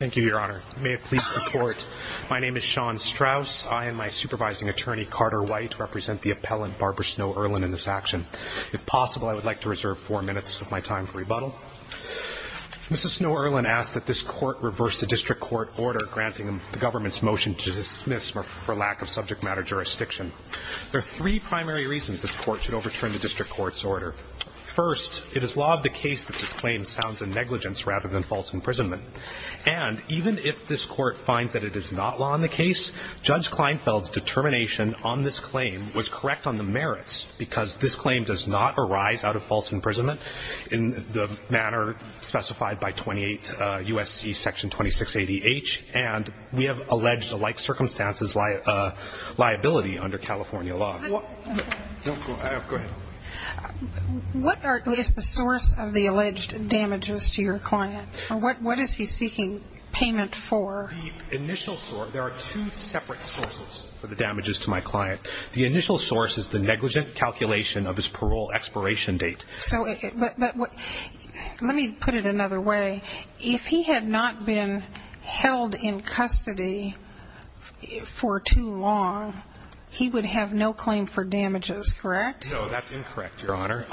Thank you, Your Honor. May it please the Court, my name is Sean Strauss. I and my supervising attorney, Carter White, represent the appellant Barbara Snow-Erlin in this action. If possible, I would like to reserve four minutes of my time for rebuttal. Mrs. Snow-Erlin asks that this Court reverse the district court order granting the government's motion to dismiss for lack of subject matter jurisdiction. There are three primary reasons this Court should overturn the district court's order. First, it is law of the case that this claim sounds of negligence rather than false imprisonment. And even if this Court finds that it is not law of the case, Judge Kleinfeld's determination on this claim was correct on the merits, because this claim does not arise out of false imprisonment in the manner specified by 28 U.S.C. Section 2680H, and we have alleged a like circumstances liability under California law. What is the source of the alleged damages to your client? What is he seeking payment for? There are two separate sources for the damages to my client. The initial source is the negligent calculation of his parole expiration date. But let me put it another way. If he had not been held in custody for too long, he would have no claim for damages, correct? No, that's incorrect, Your Honor.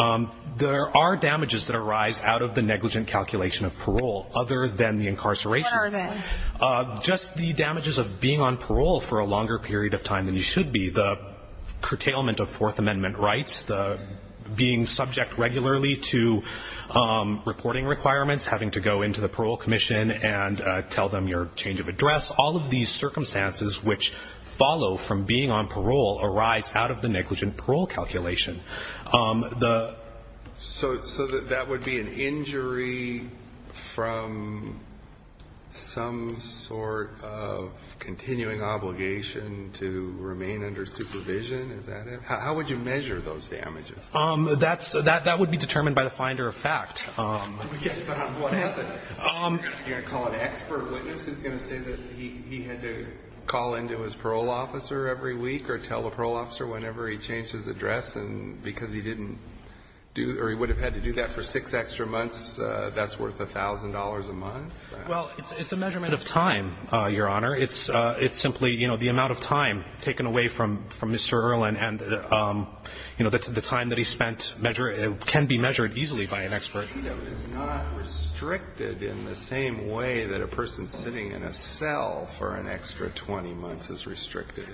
There are damages that arise out of the negligent calculation of parole other than the incarceration. What are they? Just the damages of being on parole for a longer period of time than you should be, the curtailment of Fourth Amendment rights, the being subject regularly to reporting requirements, having to go into the Parole Commission and tell them your change of address, all of these circumstances which follow from being on parole arise out of the negligent parole calculation. So that would be an injury from some sort of continuing obligation to remain under supervision, is that it? How would you measure those damages? That would be determined by the finder of fact. Yes, but on what evidence? You're going to call an expert witness who's going to say that he had to call into his parole officer every week or tell the parole officer whenever he changed his address because he didn't do or he would have had to do that for six extra months? That's worth $1,000 a month? Well, it's a measurement of time, Your Honor. It's simply, you know, the amount of time taken away from Mr. Earle and, you know, the time that he spent can be measured easily by an expert. Freedom is not restricted in the same way that a person sitting in a cell for an extra 20 months is restricted.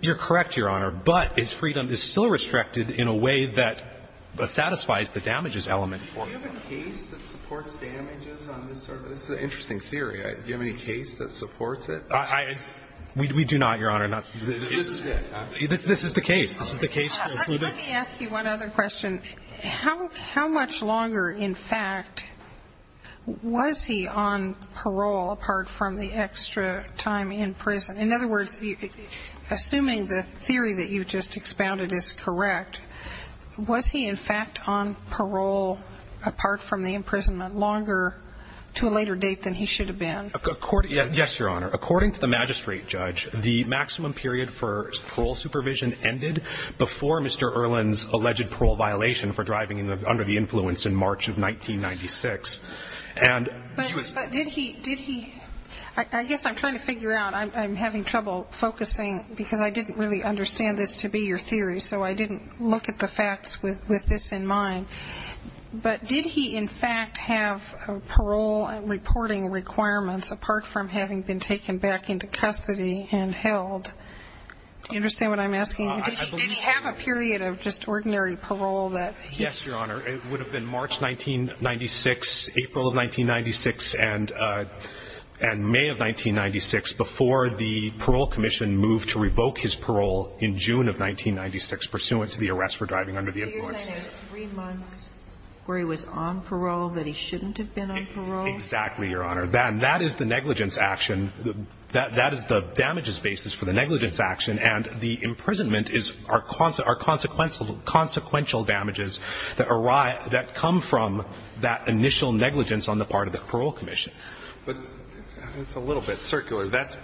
You're correct, Your Honor. But his freedom is still restricted in a way that satisfies the damages element. Do you have a case that supports damages on this sort of thing? This is an interesting theory. Do you have any case that supports it? We do not, Your Honor. This is the case. This is the case. Let me ask you one other question. How much longer, in fact, was he on parole apart from the extra time in prison? In other words, assuming the theory that you just expounded is correct, was he in fact on parole apart from the imprisonment longer to a later date than he should have been? Yes, Your Honor. According to the magistrate judge, the maximum period for parole supervision ended before Mr. Earle's alleged parole violation for driving under the influence in March of 1996. But did he ñ I guess I'm trying to figure out. I'm having trouble focusing because I didn't really understand this to be your theory, so I didn't look at the facts with this in mind. But did he, in fact, have parole reporting requirements apart from having been taken back into custody and held? Do you understand what I'm asking? Did he have a period of just ordinary parole that he ñ Yes, Your Honor. It would have been March 1996, April of 1996, and May of 1996 before the parole commission moved to revoke his parole in June of 1996 pursuant to the arrest for driving under the influence. So you're saying there's three months where he was on parole that he shouldn't have been on parole? Exactly, Your Honor. That is the negligence action. That is the damages basis for the negligence action, and the imprisonment is our consequential damages that come from that initial negligence on the part of the parole commission. But it's a little bit circular. That's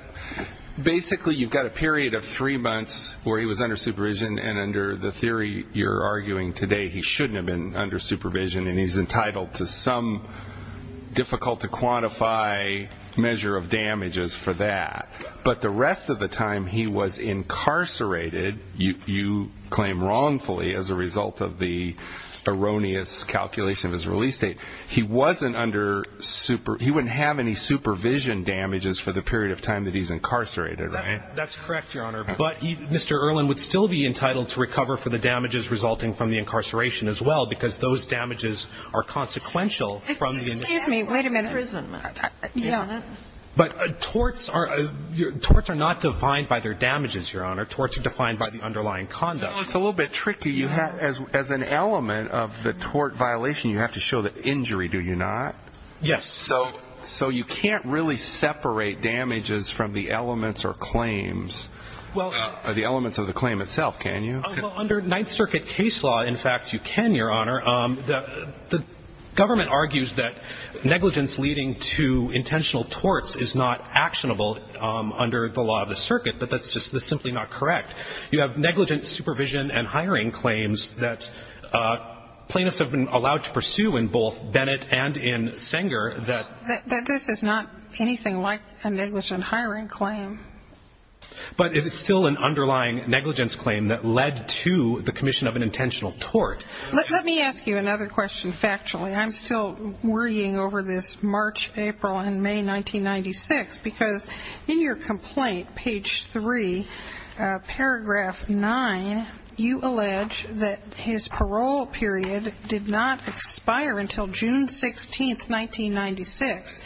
basically you've got a period of three months where he was under supervision, and under the theory you're arguing today, he shouldn't have been under supervision, and he's entitled to some difficult-to-quantify measure of damages for that. But the rest of the time he was incarcerated, you claim wrongfully as a result of the erroneous calculation of his release date, he wasn't under ñ he wouldn't have any supervision damages for the period of time that he's incarcerated, right? That's correct, Your Honor. But Mr. Erlin would still be entitled to recover for the damages resulting from the incarceration as well because those damages are consequential from the initial ñ Excuse me. Wait a minute. Yeah. But torts are not defined by their damages, Your Honor. Torts are defined by the underlying conduct. It's a little bit tricky. As an element of the tort violation, you have to show the injury, do you not? Yes. So you can't really separate damages from the elements or claims. Well ñ Or the elements of the claim itself, can you? Well, under Ninth Circuit case law, in fact, you can, Your Honor. The government argues that negligence leading to intentional torts is not actionable under the law of the circuit, but that's just ñ that's simply not correct. You have negligent supervision and hiring claims that plaintiffs have been allowed to pursue in both Bennett and in Sanger that ñ that this is not anything like a negligent hiring claim. But it is still an underlying negligence claim that led to the commission of an intentional tort. Let me ask you another question factually. I'm still worrying over this March, April, and May 1996 because in your complaint, page 3, paragraph 9, you allege that his parole period did not expire until June 16th, 1996.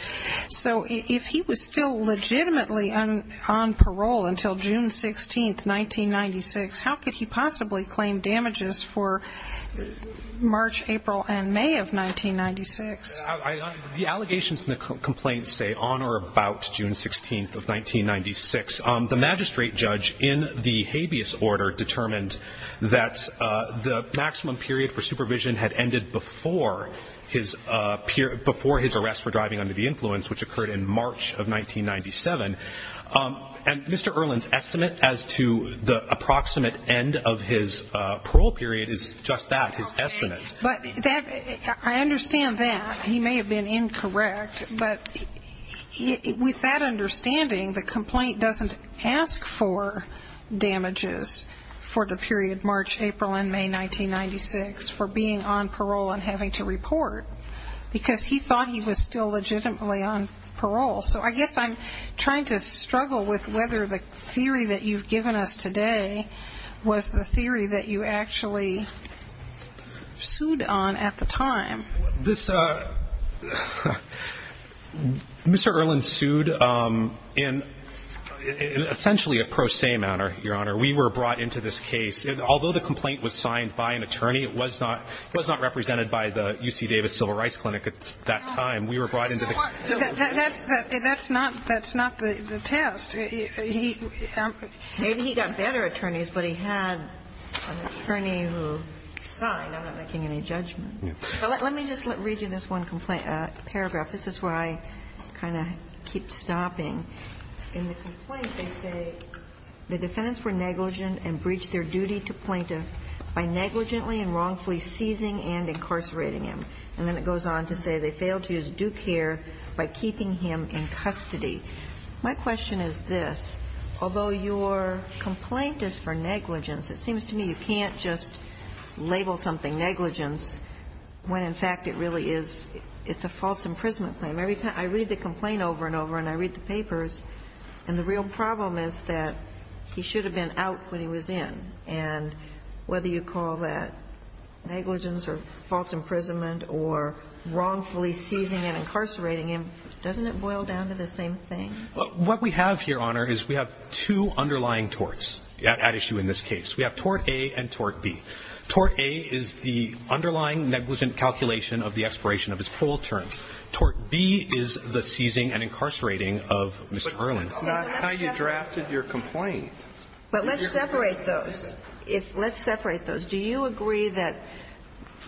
So if he was still legitimately on parole until June 16th, 1996, how could he possibly claim damages for March, April, and May of 1996? The allegations in the complaint say on or about June 16th of 1996. The magistrate judge in the habeas order determined that the maximum period for supervision had ended before his ñ before his arrest for driving under the influence, which occurred in March of 1997. And Mr. Erlin's estimate as to the approximate end of his parole period is just that, his estimates. But that ñ I understand that. He may have been incorrect. But with that understanding, the complaint doesn't ask for damages for the period March, April, and May 1996 for being on parole and having to report because he thought he was still legitimately on parole. So I guess I'm trying to struggle with whether the theory that you've given us today was the theory that you actually sued on at the time. This ñ Mr. Erlin sued in essentially a pro se manner, Your Honor. We were brought into this case. Although the complaint was signed by an attorney, it was not ñ it was not represented by the UC Davis Civil Rights Clinic at that time. We were brought into the case. That's not ñ that's not the test. Maybe he got better attorneys, but he had an attorney who signed without making any judgment. But let me just read you this one complaint ñ paragraph. This is where I kind of keep stopping. In the complaint, they say, ìThe defendants were negligent and breached their duty to plaintiff by negligently and wrongfully seizing and incarcerating him.î And then it goes on to say, ìThey failed to use due care by keeping him in custody.î My question is this. Although your complaint is for negligence, it seems to me you can't just label something negligence when in fact it really is ñ it's a false imprisonment claim. Every time I read the complaint over and over and I read the papers, and the real problem is that he should have been out when he was in. And whether you call that negligence or false imprisonment or wrongfully seizing and incarcerating him, doesn't it boil down to the same thing? What we have here, Your Honor, is we have two underlying torts at issue in this case. We have Tort A and Tort B. Tort A is the underlying negligent calculation of the expiration of his parole term. Tort B is the seizing and incarcerating of Mr. Erlin. But that's not how you drafted your complaint. But let's separate those. Let's separate those. Do you agree that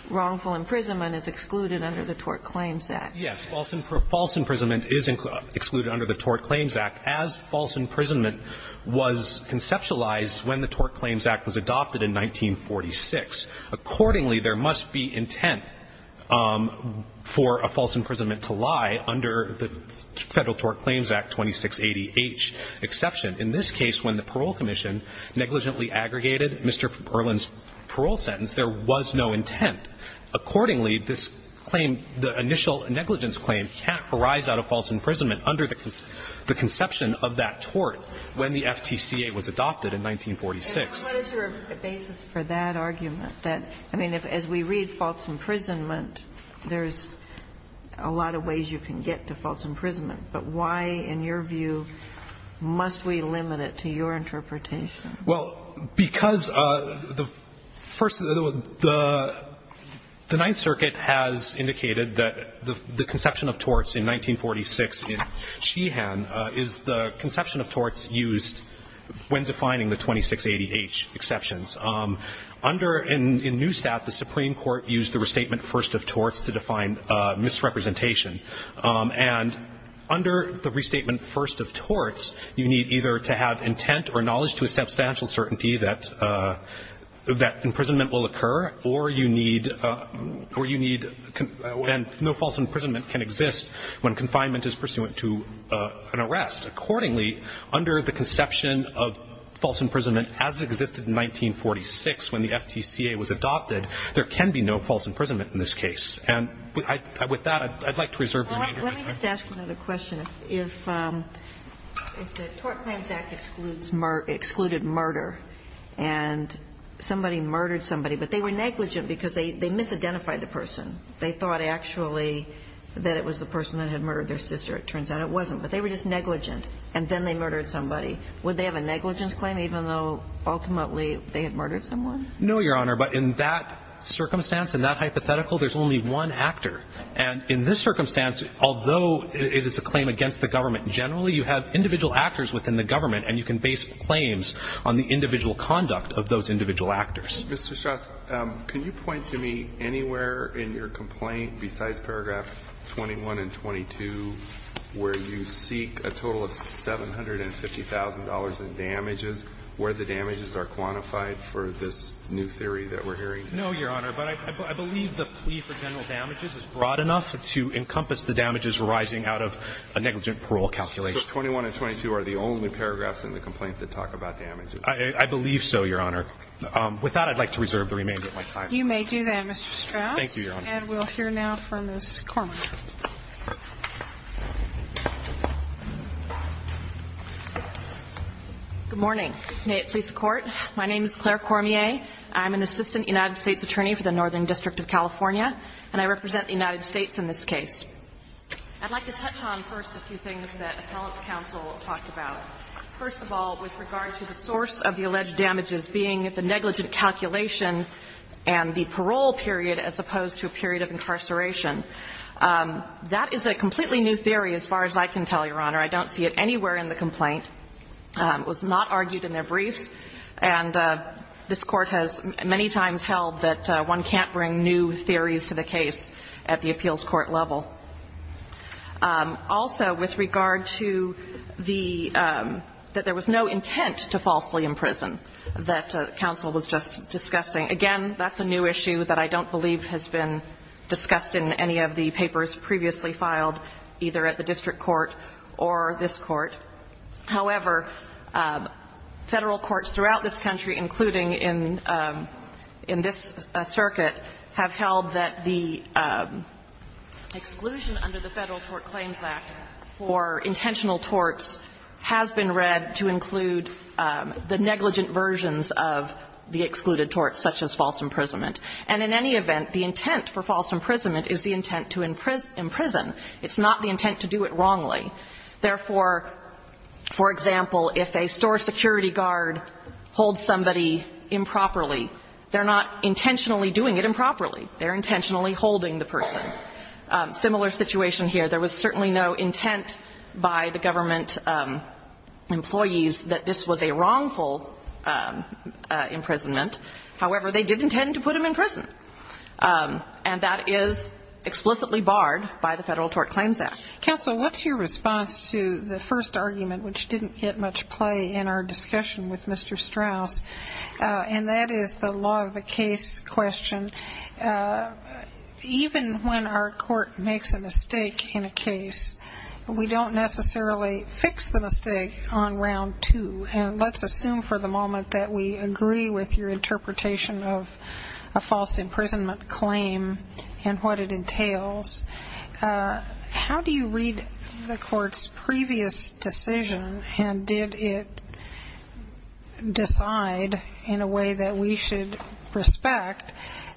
wrongful imprisonment is excluded under the Tort Claims Act? Yes. False imprisonment is excluded under the Tort Claims Act as false imprisonment was conceptualized when the Tort Claims Act was adopted in 1946. Accordingly, there must be intent for a false imprisonment to lie under the Federal Tort Claims Act 2680H exception. In this case, when the parole commission negligently aggregated Mr. Erlin's parole sentence, there was no intent. Accordingly, this claim, the initial negligence claim, can't arise out of false imprisonment as a result of the tort when the FTCA was adopted in 1946. And what is your basis for that argument, that, I mean, as we read false imprisonment, there's a lot of ways you can get to false imprisonment? But why, in your view, must we limit it to your interpretation? Well, because the First, the Ninth Circuit has indicated that the conception of torts in 1946 in Sheehan is the conception of torts used when defining the 2680H exceptions. Under, in Newstat, the Supreme Court used the restatement first of torts to define misrepresentation. And under the restatement first of torts, you need either to have intent or knowledge to a substantial certainty that imprisonment will occur, or you need, or you need to be able to identify the person. And no false imprisonment can exist when confinement is pursuant to an arrest. Accordingly, under the conception of false imprisonment as it existed in 1946 when the FTCA was adopted, there can be no false imprisonment in this case. And with that, I'd like to reserve the remainder of my time. Well, let me just ask you another question. If the Tort Claims Act excludes murder, and somebody murdered somebody, but they were negligent because they misidentified the person. They thought actually that it was the person that had murdered their sister. It turns out it wasn't. But they were just negligent, and then they murdered somebody. Would they have a negligence claim, even though ultimately they had murdered someone? No, Your Honor. But in that circumstance, in that hypothetical, there's only one actor. And in this circumstance, although it is a claim against the government, generally you have individual actors within the government, and you can base claims on the individual conduct of those individual actors. Mr. Strauss, can you point to me anywhere in your complaint besides paragraph 21 and 22 where you seek a total of $750,000 in damages, where the damages are quantified for this new theory that we're hearing? No, Your Honor. But I believe the plea for general damages is broad enough to encompass the damages arising out of a negligent parole calculation. So 21 and 22 are the only paragraphs in the complaint that talk about damages? I believe so, Your Honor. With that, I'd like to reserve the remainder of my time. You may do that, Mr. Strauss. Thank you, Your Honor. And we'll hear now from Ms. Cormier. Good morning. May it please the Court. My name is Claire Cormier. I'm an assistant United States attorney for the Northern District of California, and I represent the United States in this case. I'd like to touch on first a few things that appellant's counsel talked about. First of all, with regard to the source of the alleged damages being the negligent calculation and the parole period as opposed to a period of incarceration. That is a completely new theory as far as I can tell, Your Honor. I don't see it anywhere in the complaint. It was not argued in their briefs. And this Court has many times held that one can't bring new theories to the case at the appeals court level. Also, with regard to the – that there was no intent to falsely imprison that counsel was just discussing. Again, that's a new issue that I don't believe has been discussed in any of the papers previously filed, either at the district court or this court. However, Federal courts throughout this country, including in this circuit, have held that the exclusion under the Federal Tort Claims Act for intentional torts has been read to include the negligent versions of the excluded torts, such as false imprisonment. And in any event, the intent for false imprisonment is the intent to imprison. It's not the intent to do it wrongly. Therefore, for example, if a store security guard holds somebody improperly, they're not intentionally doing it improperly. They're intentionally holding the person. Similar situation here. There was certainly no intent by the government employees that this was a wrongful imprisonment. However, they did intend to put him in prison. And that is explicitly barred by the Federal Tort Claims Act. Counsel, what's your response to the first argument, which didn't get much play in our discussion with Mr. Strauss? And that is the law of the case question. Even when our court makes a mistake in a case, we don't necessarily fix the mistake on round two. And let's assume for the moment that we agree with your interpretation of a false imprisonment claim and what it entails. How do you read the court's previous decision? And did it decide in a way that we should respect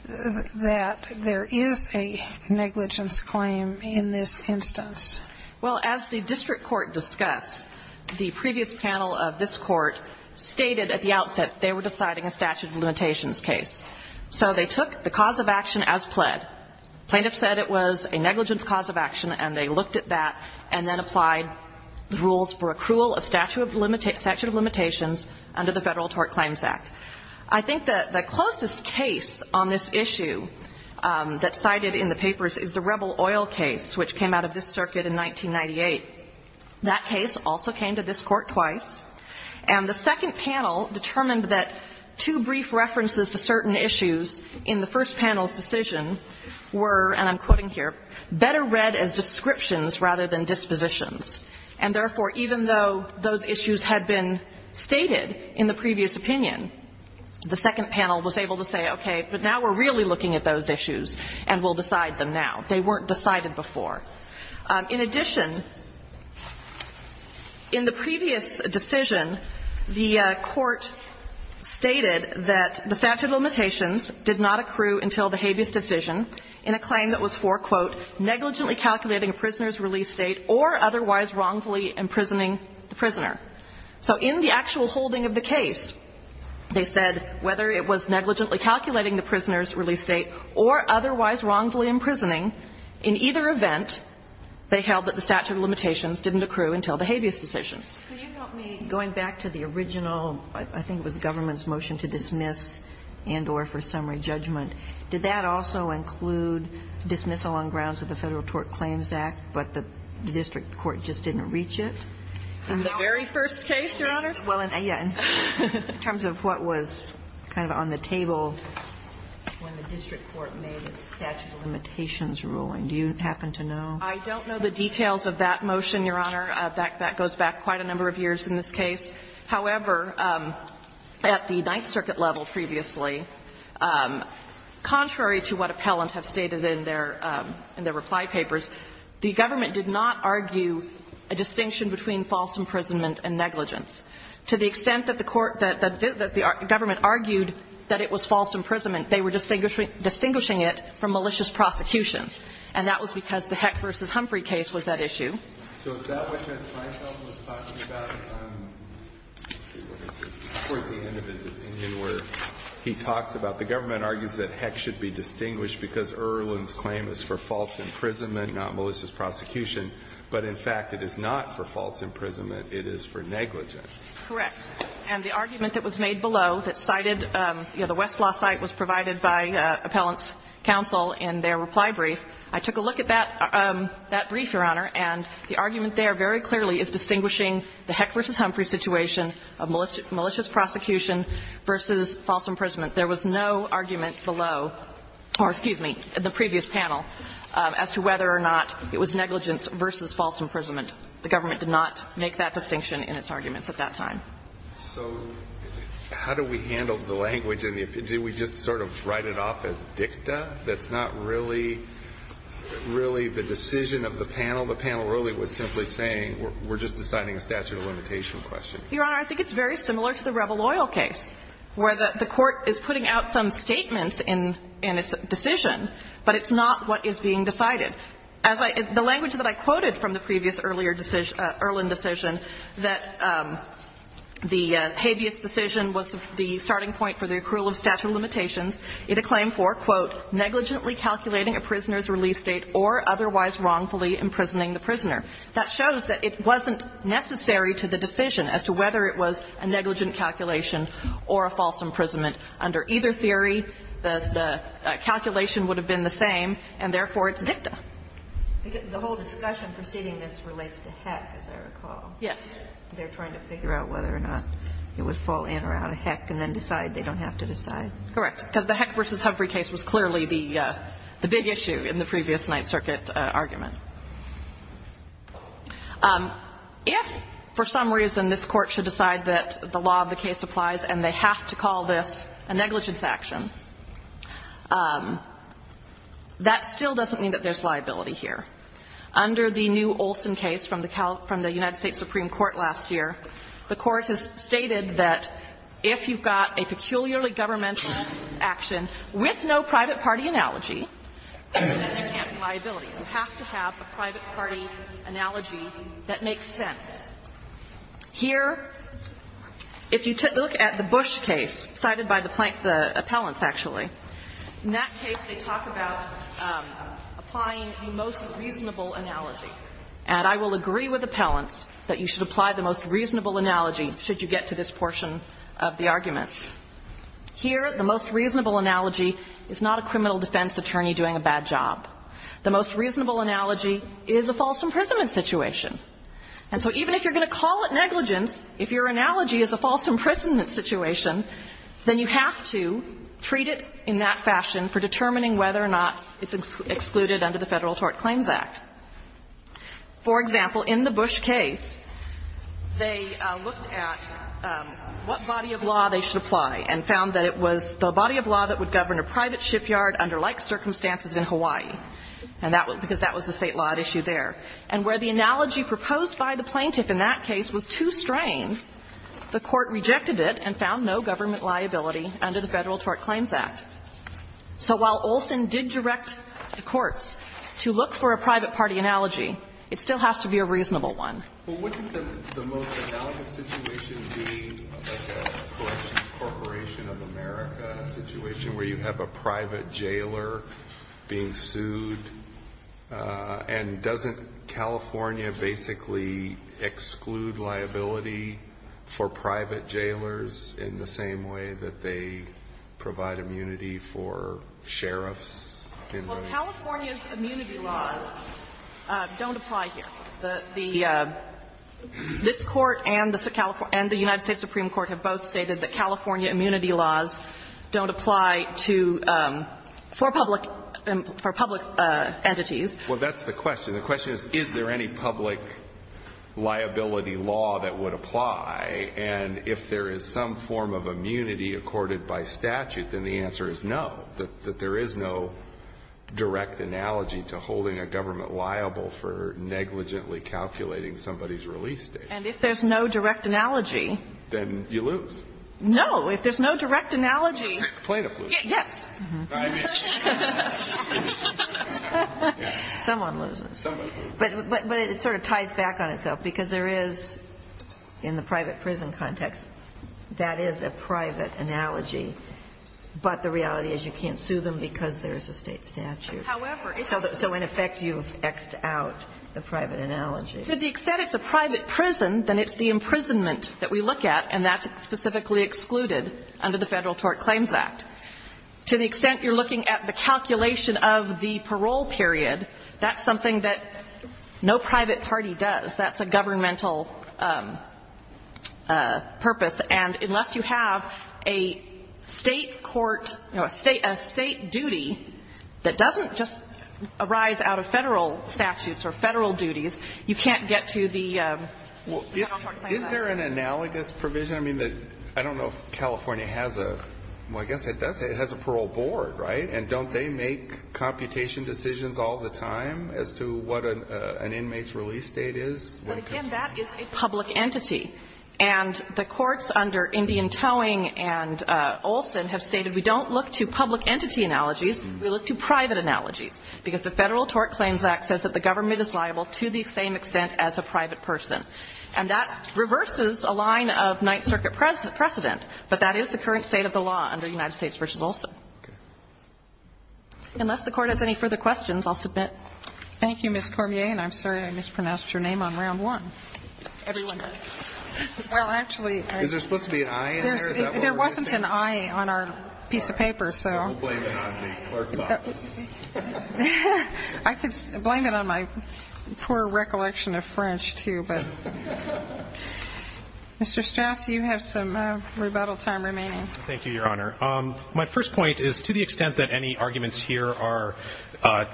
that there is a negligence claim in this instance? Well, as the district court discussed, the previous panel of this court stated at the outset they were deciding a statute of limitations case. So they took the cause of action as pled. Plaintiffs said it was a negligence cause of action, and they looked at that and then applied the rules for accrual of statute of limitations under the Federal Tort Claims Act. I think that the closest case on this issue that's cited in the papers is the Rebel Oil case, which came out of this circuit in 1998. That case also came to this court twice. And the second panel determined that two brief references to certain issues in the first panel's decision were, and I'm quoting here, better read as descriptions rather than dispositions. And therefore, even though those issues had been stated in the previous opinion, the second panel was able to say, okay, but now we're really looking at those issues and we'll decide them now. They weren't decided before. In addition, in the previous decision, the court stated that the statute of limitations did not accrue until the habeas decision in a claim that was for, quote, negligently calculating a prisoner's release date or otherwise wrongfully imprisoning the prisoner. So in the actual holding of the case, they said whether it was negligently calculating the prisoner's release date or otherwise wrongfully imprisoning, in either event, they held that the statute of limitations didn't accrue until the habeas decision. Sotomayor, can you help me? Going back to the original, I think it was the government's motion to dismiss and or for summary judgment, did that also include dismissal on grounds of the Federal Tort Claims Act, but the district court just didn't reach it? In the very first case, Your Honor? Well, yeah. In terms of what was kind of on the table when the district court made its statute of limitations ruling, do you happen to know? I don't know the details of that motion, Your Honor. That goes back quite a number of years in this case. However, at the Ninth Circuit level previously, contrary to what appellants have stated in their reply papers, the government did not argue a distinction between false imprisonment and negligence. To the extent that the court that the government argued that it was false imprisonment, they were distinguishing it from malicious prosecution. And that was because the Heck v. Humphrey case was that issue. Okay. So if that wasn't myself was talking about towards the end of his opinion where he talks about the government argues that Heck should be distinguished because Erlin's claim is for false imprisonment, not malicious prosecution, but in fact, it is not for false imprisonment. It is for negligence. Correct. And the argument that was made below that cited, you know, the Westlaw site was provided by appellants' counsel in their reply brief. I took a look at that brief, Your Honor, and the argument there very clearly is distinguishing the Heck v. Humphrey situation of malicious prosecution versus false imprisonment. There was no argument below or, excuse me, in the previous panel as to whether or not it was negligence versus false imprisonment. The government did not make that distinction in its arguments at that time. So how do we handle the language? Did we just sort of write it off as dicta? That's not really the decision of the panel. The panel really was simply saying we're just deciding a statute of limitation question. Your Honor, I think it's very similar to the Rebel Oil case, where the court is putting out some statements in its decision, but it's not what is being decided. As I — the language that I quoted from the previous earlier decision, Erlin decision, that the habeas decision was the starting point for the accrual of statute of limitations. It acclaimed for, quote, negligently calculating a prisoner's release date or otherwise wrongfully imprisoning the prisoner. That shows that it wasn't necessary to the decision as to whether it was a negligent calculation or a false imprisonment. Under either theory, the calculation would have been the same, and therefore it's dicta. The whole discussion preceding this relates to Heck, as I recall. Yes. They're trying to figure out whether or not it would fall in or out of Heck and then decide they don't have to decide. Correct. Because the Heck v. Humphrey case was clearly the big issue in the previous Ninth Circuit argument. If for some reason this Court should decide that the law of the case applies and they have to call this a negligence action, that still doesn't mean that there's liability here. Under the new Olson case from the United States Supreme Court last year, the Court has stated that if you've got a peculiarly governmental action with no private party analogy, then there can't be liability. You have to have a private party analogy that makes sense. Here, if you look at the Bush case cited by the appellants, actually, in that case they talk about applying the most reasonable analogy. And I will agree with appellants that you should apply the most reasonable analogy should you get to this portion of the arguments. Here, the most reasonable analogy is not a criminal defense attorney doing a bad job. The most reasonable analogy is a false imprisonment situation. And so even if you're going to call it negligence, if your analogy is a false imprisonment situation, then you have to treat it in that fashion for determining whether or not it's excluded under the Federal Tort Claims Act. For example, in the Bush case, they looked at what body of law they should apply and found that it was the body of law that would govern a private shipyard under like circumstances in Hawaii, because that was the State law at issue there. And where the analogy proposed by the plaintiff in that case was too strained, the Court rejected it and found no government liability under the Federal Tort Claims Act. So while Olson did direct the courts to look for a private party analogy, it still has to be a reasonable one. Alitoson Well, wouldn't the most analogous situation be like a Corporation of America situation where you have a private jailer being immunity for private jailers in the same way that they provide immunity for sheriffs in the room? Well, California's immunity laws don't apply here. The this Court and the California and the United States Supreme Court have both stated that California immunity laws don't apply to, for public, for public entities. Well, that's the question. The question is, is there any public liability law that would apply, and if there is some form of immunity accorded by statute, then the answer is no, that there is no direct analogy to holding a government liable for negligently calculating somebody's release date. And if there's no direct analogy? Then you lose. No. If there's no direct analogy. Plaintiff loses. Yes. Someone loses. But it sort of ties back on itself, because there is, in the private prison context, that is a private analogy, but the reality is you can't sue them because there is a State statute. So in effect, you've X'd out the private analogy. To the extent it's a private prison, then it's the imprisonment that we look at, to the extent you're looking at the calculation of the parole period, that's something that no private party does. That's a governmental purpose. And unless you have a State court, you know, a State duty that doesn't just arise out of Federal statutes or Federal duties, you can't get to the federal court claim that. Is there an analogous provision? I mean, I don't know if California has a, well, I guess it does. It has a parole board, right? And don't they make computation decisions all the time as to what an inmate's release date is? Well, again, that is a public entity. And the courts under Indian Towing and Olson have stated we don't look to public entity analogies. We look to private analogies, because the Federal Tort Claims Act says that the government is liable to the same extent as a private person. And that reverses a line of Ninth Circuit precedent. But that is the current state of the law under the United States v. Olson. Unless the Court has any further questions, I'll submit. Thank you, Ms. Cormier. And I'm sorry I mispronounced your name on round one. Everyone does. Well, actually, I just. Is there supposed to be an I in there? There wasn't an I on our piece of paper, so. We'll blame it on the clerk's office. I could blame it on my poor recollection of French, too, but. Mr. Strauss, you have some rebuttal time remaining. Thank you, Your Honor. My first point is, to the extent that any arguments here are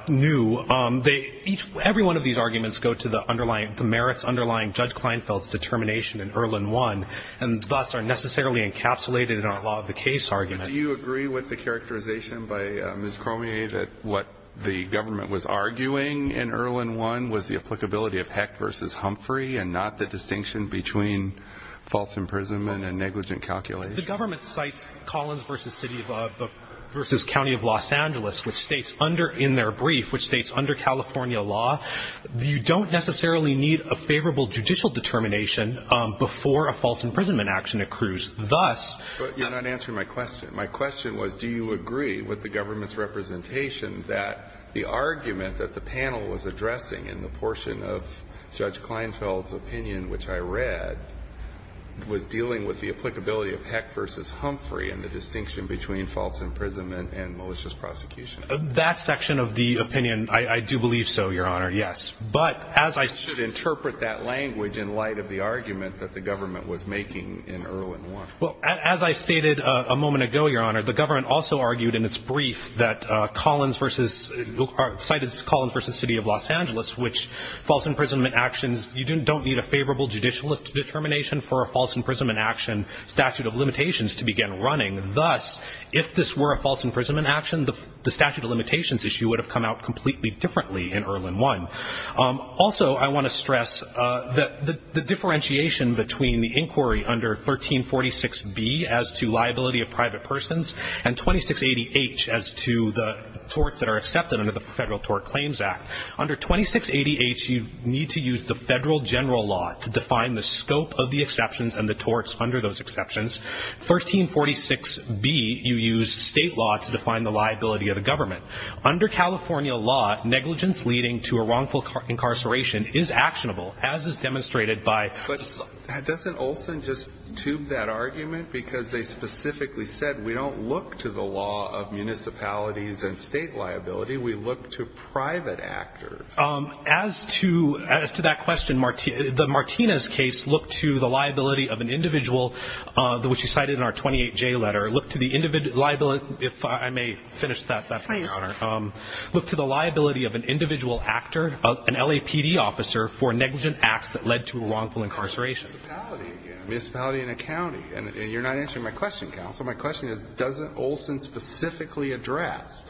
new, every one of these arguments go to the underlying, the merits underlying Judge Kleinfeld's determination in Erlin I, and thus are necessarily encapsulated in our law of the case argument. Do you agree with the characterization by Ms. Cormier that what the government was arguing in Erlin I was the applicability of Hecht v. Humphrey and not the distinction between false imprisonment and negligent calculation? The government cites Collins v. City of, v. County of Los Angeles, which states under, in their brief, which states under California law, you don't necessarily need a favorable judicial determination before a false imprisonment action accrues. Thus you're not answering my question. My question was, do you agree with the government's representation that the argument that the panel was addressing in the portion of Judge Kleinfeld's opinion, which I read, was dealing with the applicability of Hecht v. Humphrey and the distinction between false imprisonment and malicious prosecution? That section of the opinion, I do believe so, Your Honor, yes. But as I should interpret that language in light of the argument that the government was making in Erlin I. Well, as I stated a moment ago, Your Honor, the government also argued in its brief that Collins v. – cited Collins v. City of Los Angeles, which false imprisonment actions – you don't need a favorable judicial determination for a false imprisonment action statute of limitations to begin running. Thus, if this were a false imprisonment action, the statute of limitations issue would have come out completely differently in Erlin I. Also, I want to stress the differentiation between the inquiry under 1346B as to liability of private persons and 2680H as to the torts that are accepted under the Federal Tort Claims Act. Under 2680H, you need to use the federal general law to define the scope of the exceptions and the torts under those exceptions. 1346B, you use state law to define the liability of the government. Under California law, negligence leading to a wrongful incarceration is actionable, as is demonstrated by – But doesn't Olson just tube that argument? Because they specifically said we don't look to the law of municipalities and state liability. We look to private actors. As to – as to that question, the Martinez case looked to the liability of an individual, which he cited in our 28J letter, looked to the – if I may finish that one, Your Honor, looked to the liability of an individual actor, an LAPD officer for negligent acts that led to a wrongful incarceration. Municipality again. Municipality and a county. And you're not answering my question, counsel. My question is, doesn't Olson specifically address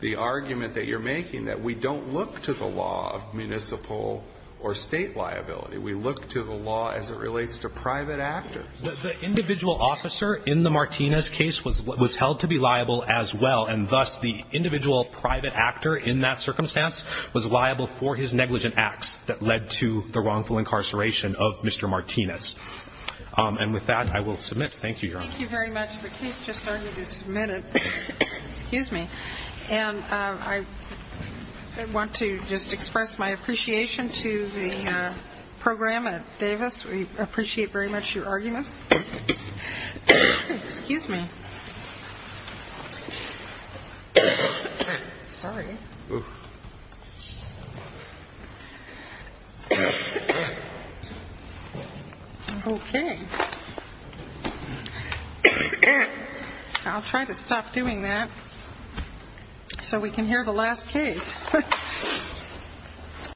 the argument that you're making that we don't look to the law of municipal or state liability? We look to the law as it relates to private actors. The individual officer in the Martinez case was held to be liable as well, and thus the individual private actor in that circumstance was liable for his negligent acts that led to the wrongful incarceration of Mr. Martinez. And with that, I will submit. Thank you, Your Honor. Thank you very much. The case just started this minute. Excuse me. And I want to just express my appreciation to the program at Davis. We appreciate very much your arguments. Excuse me. Sorry. Okay. I'll try to stop doing that so we can hear the last case.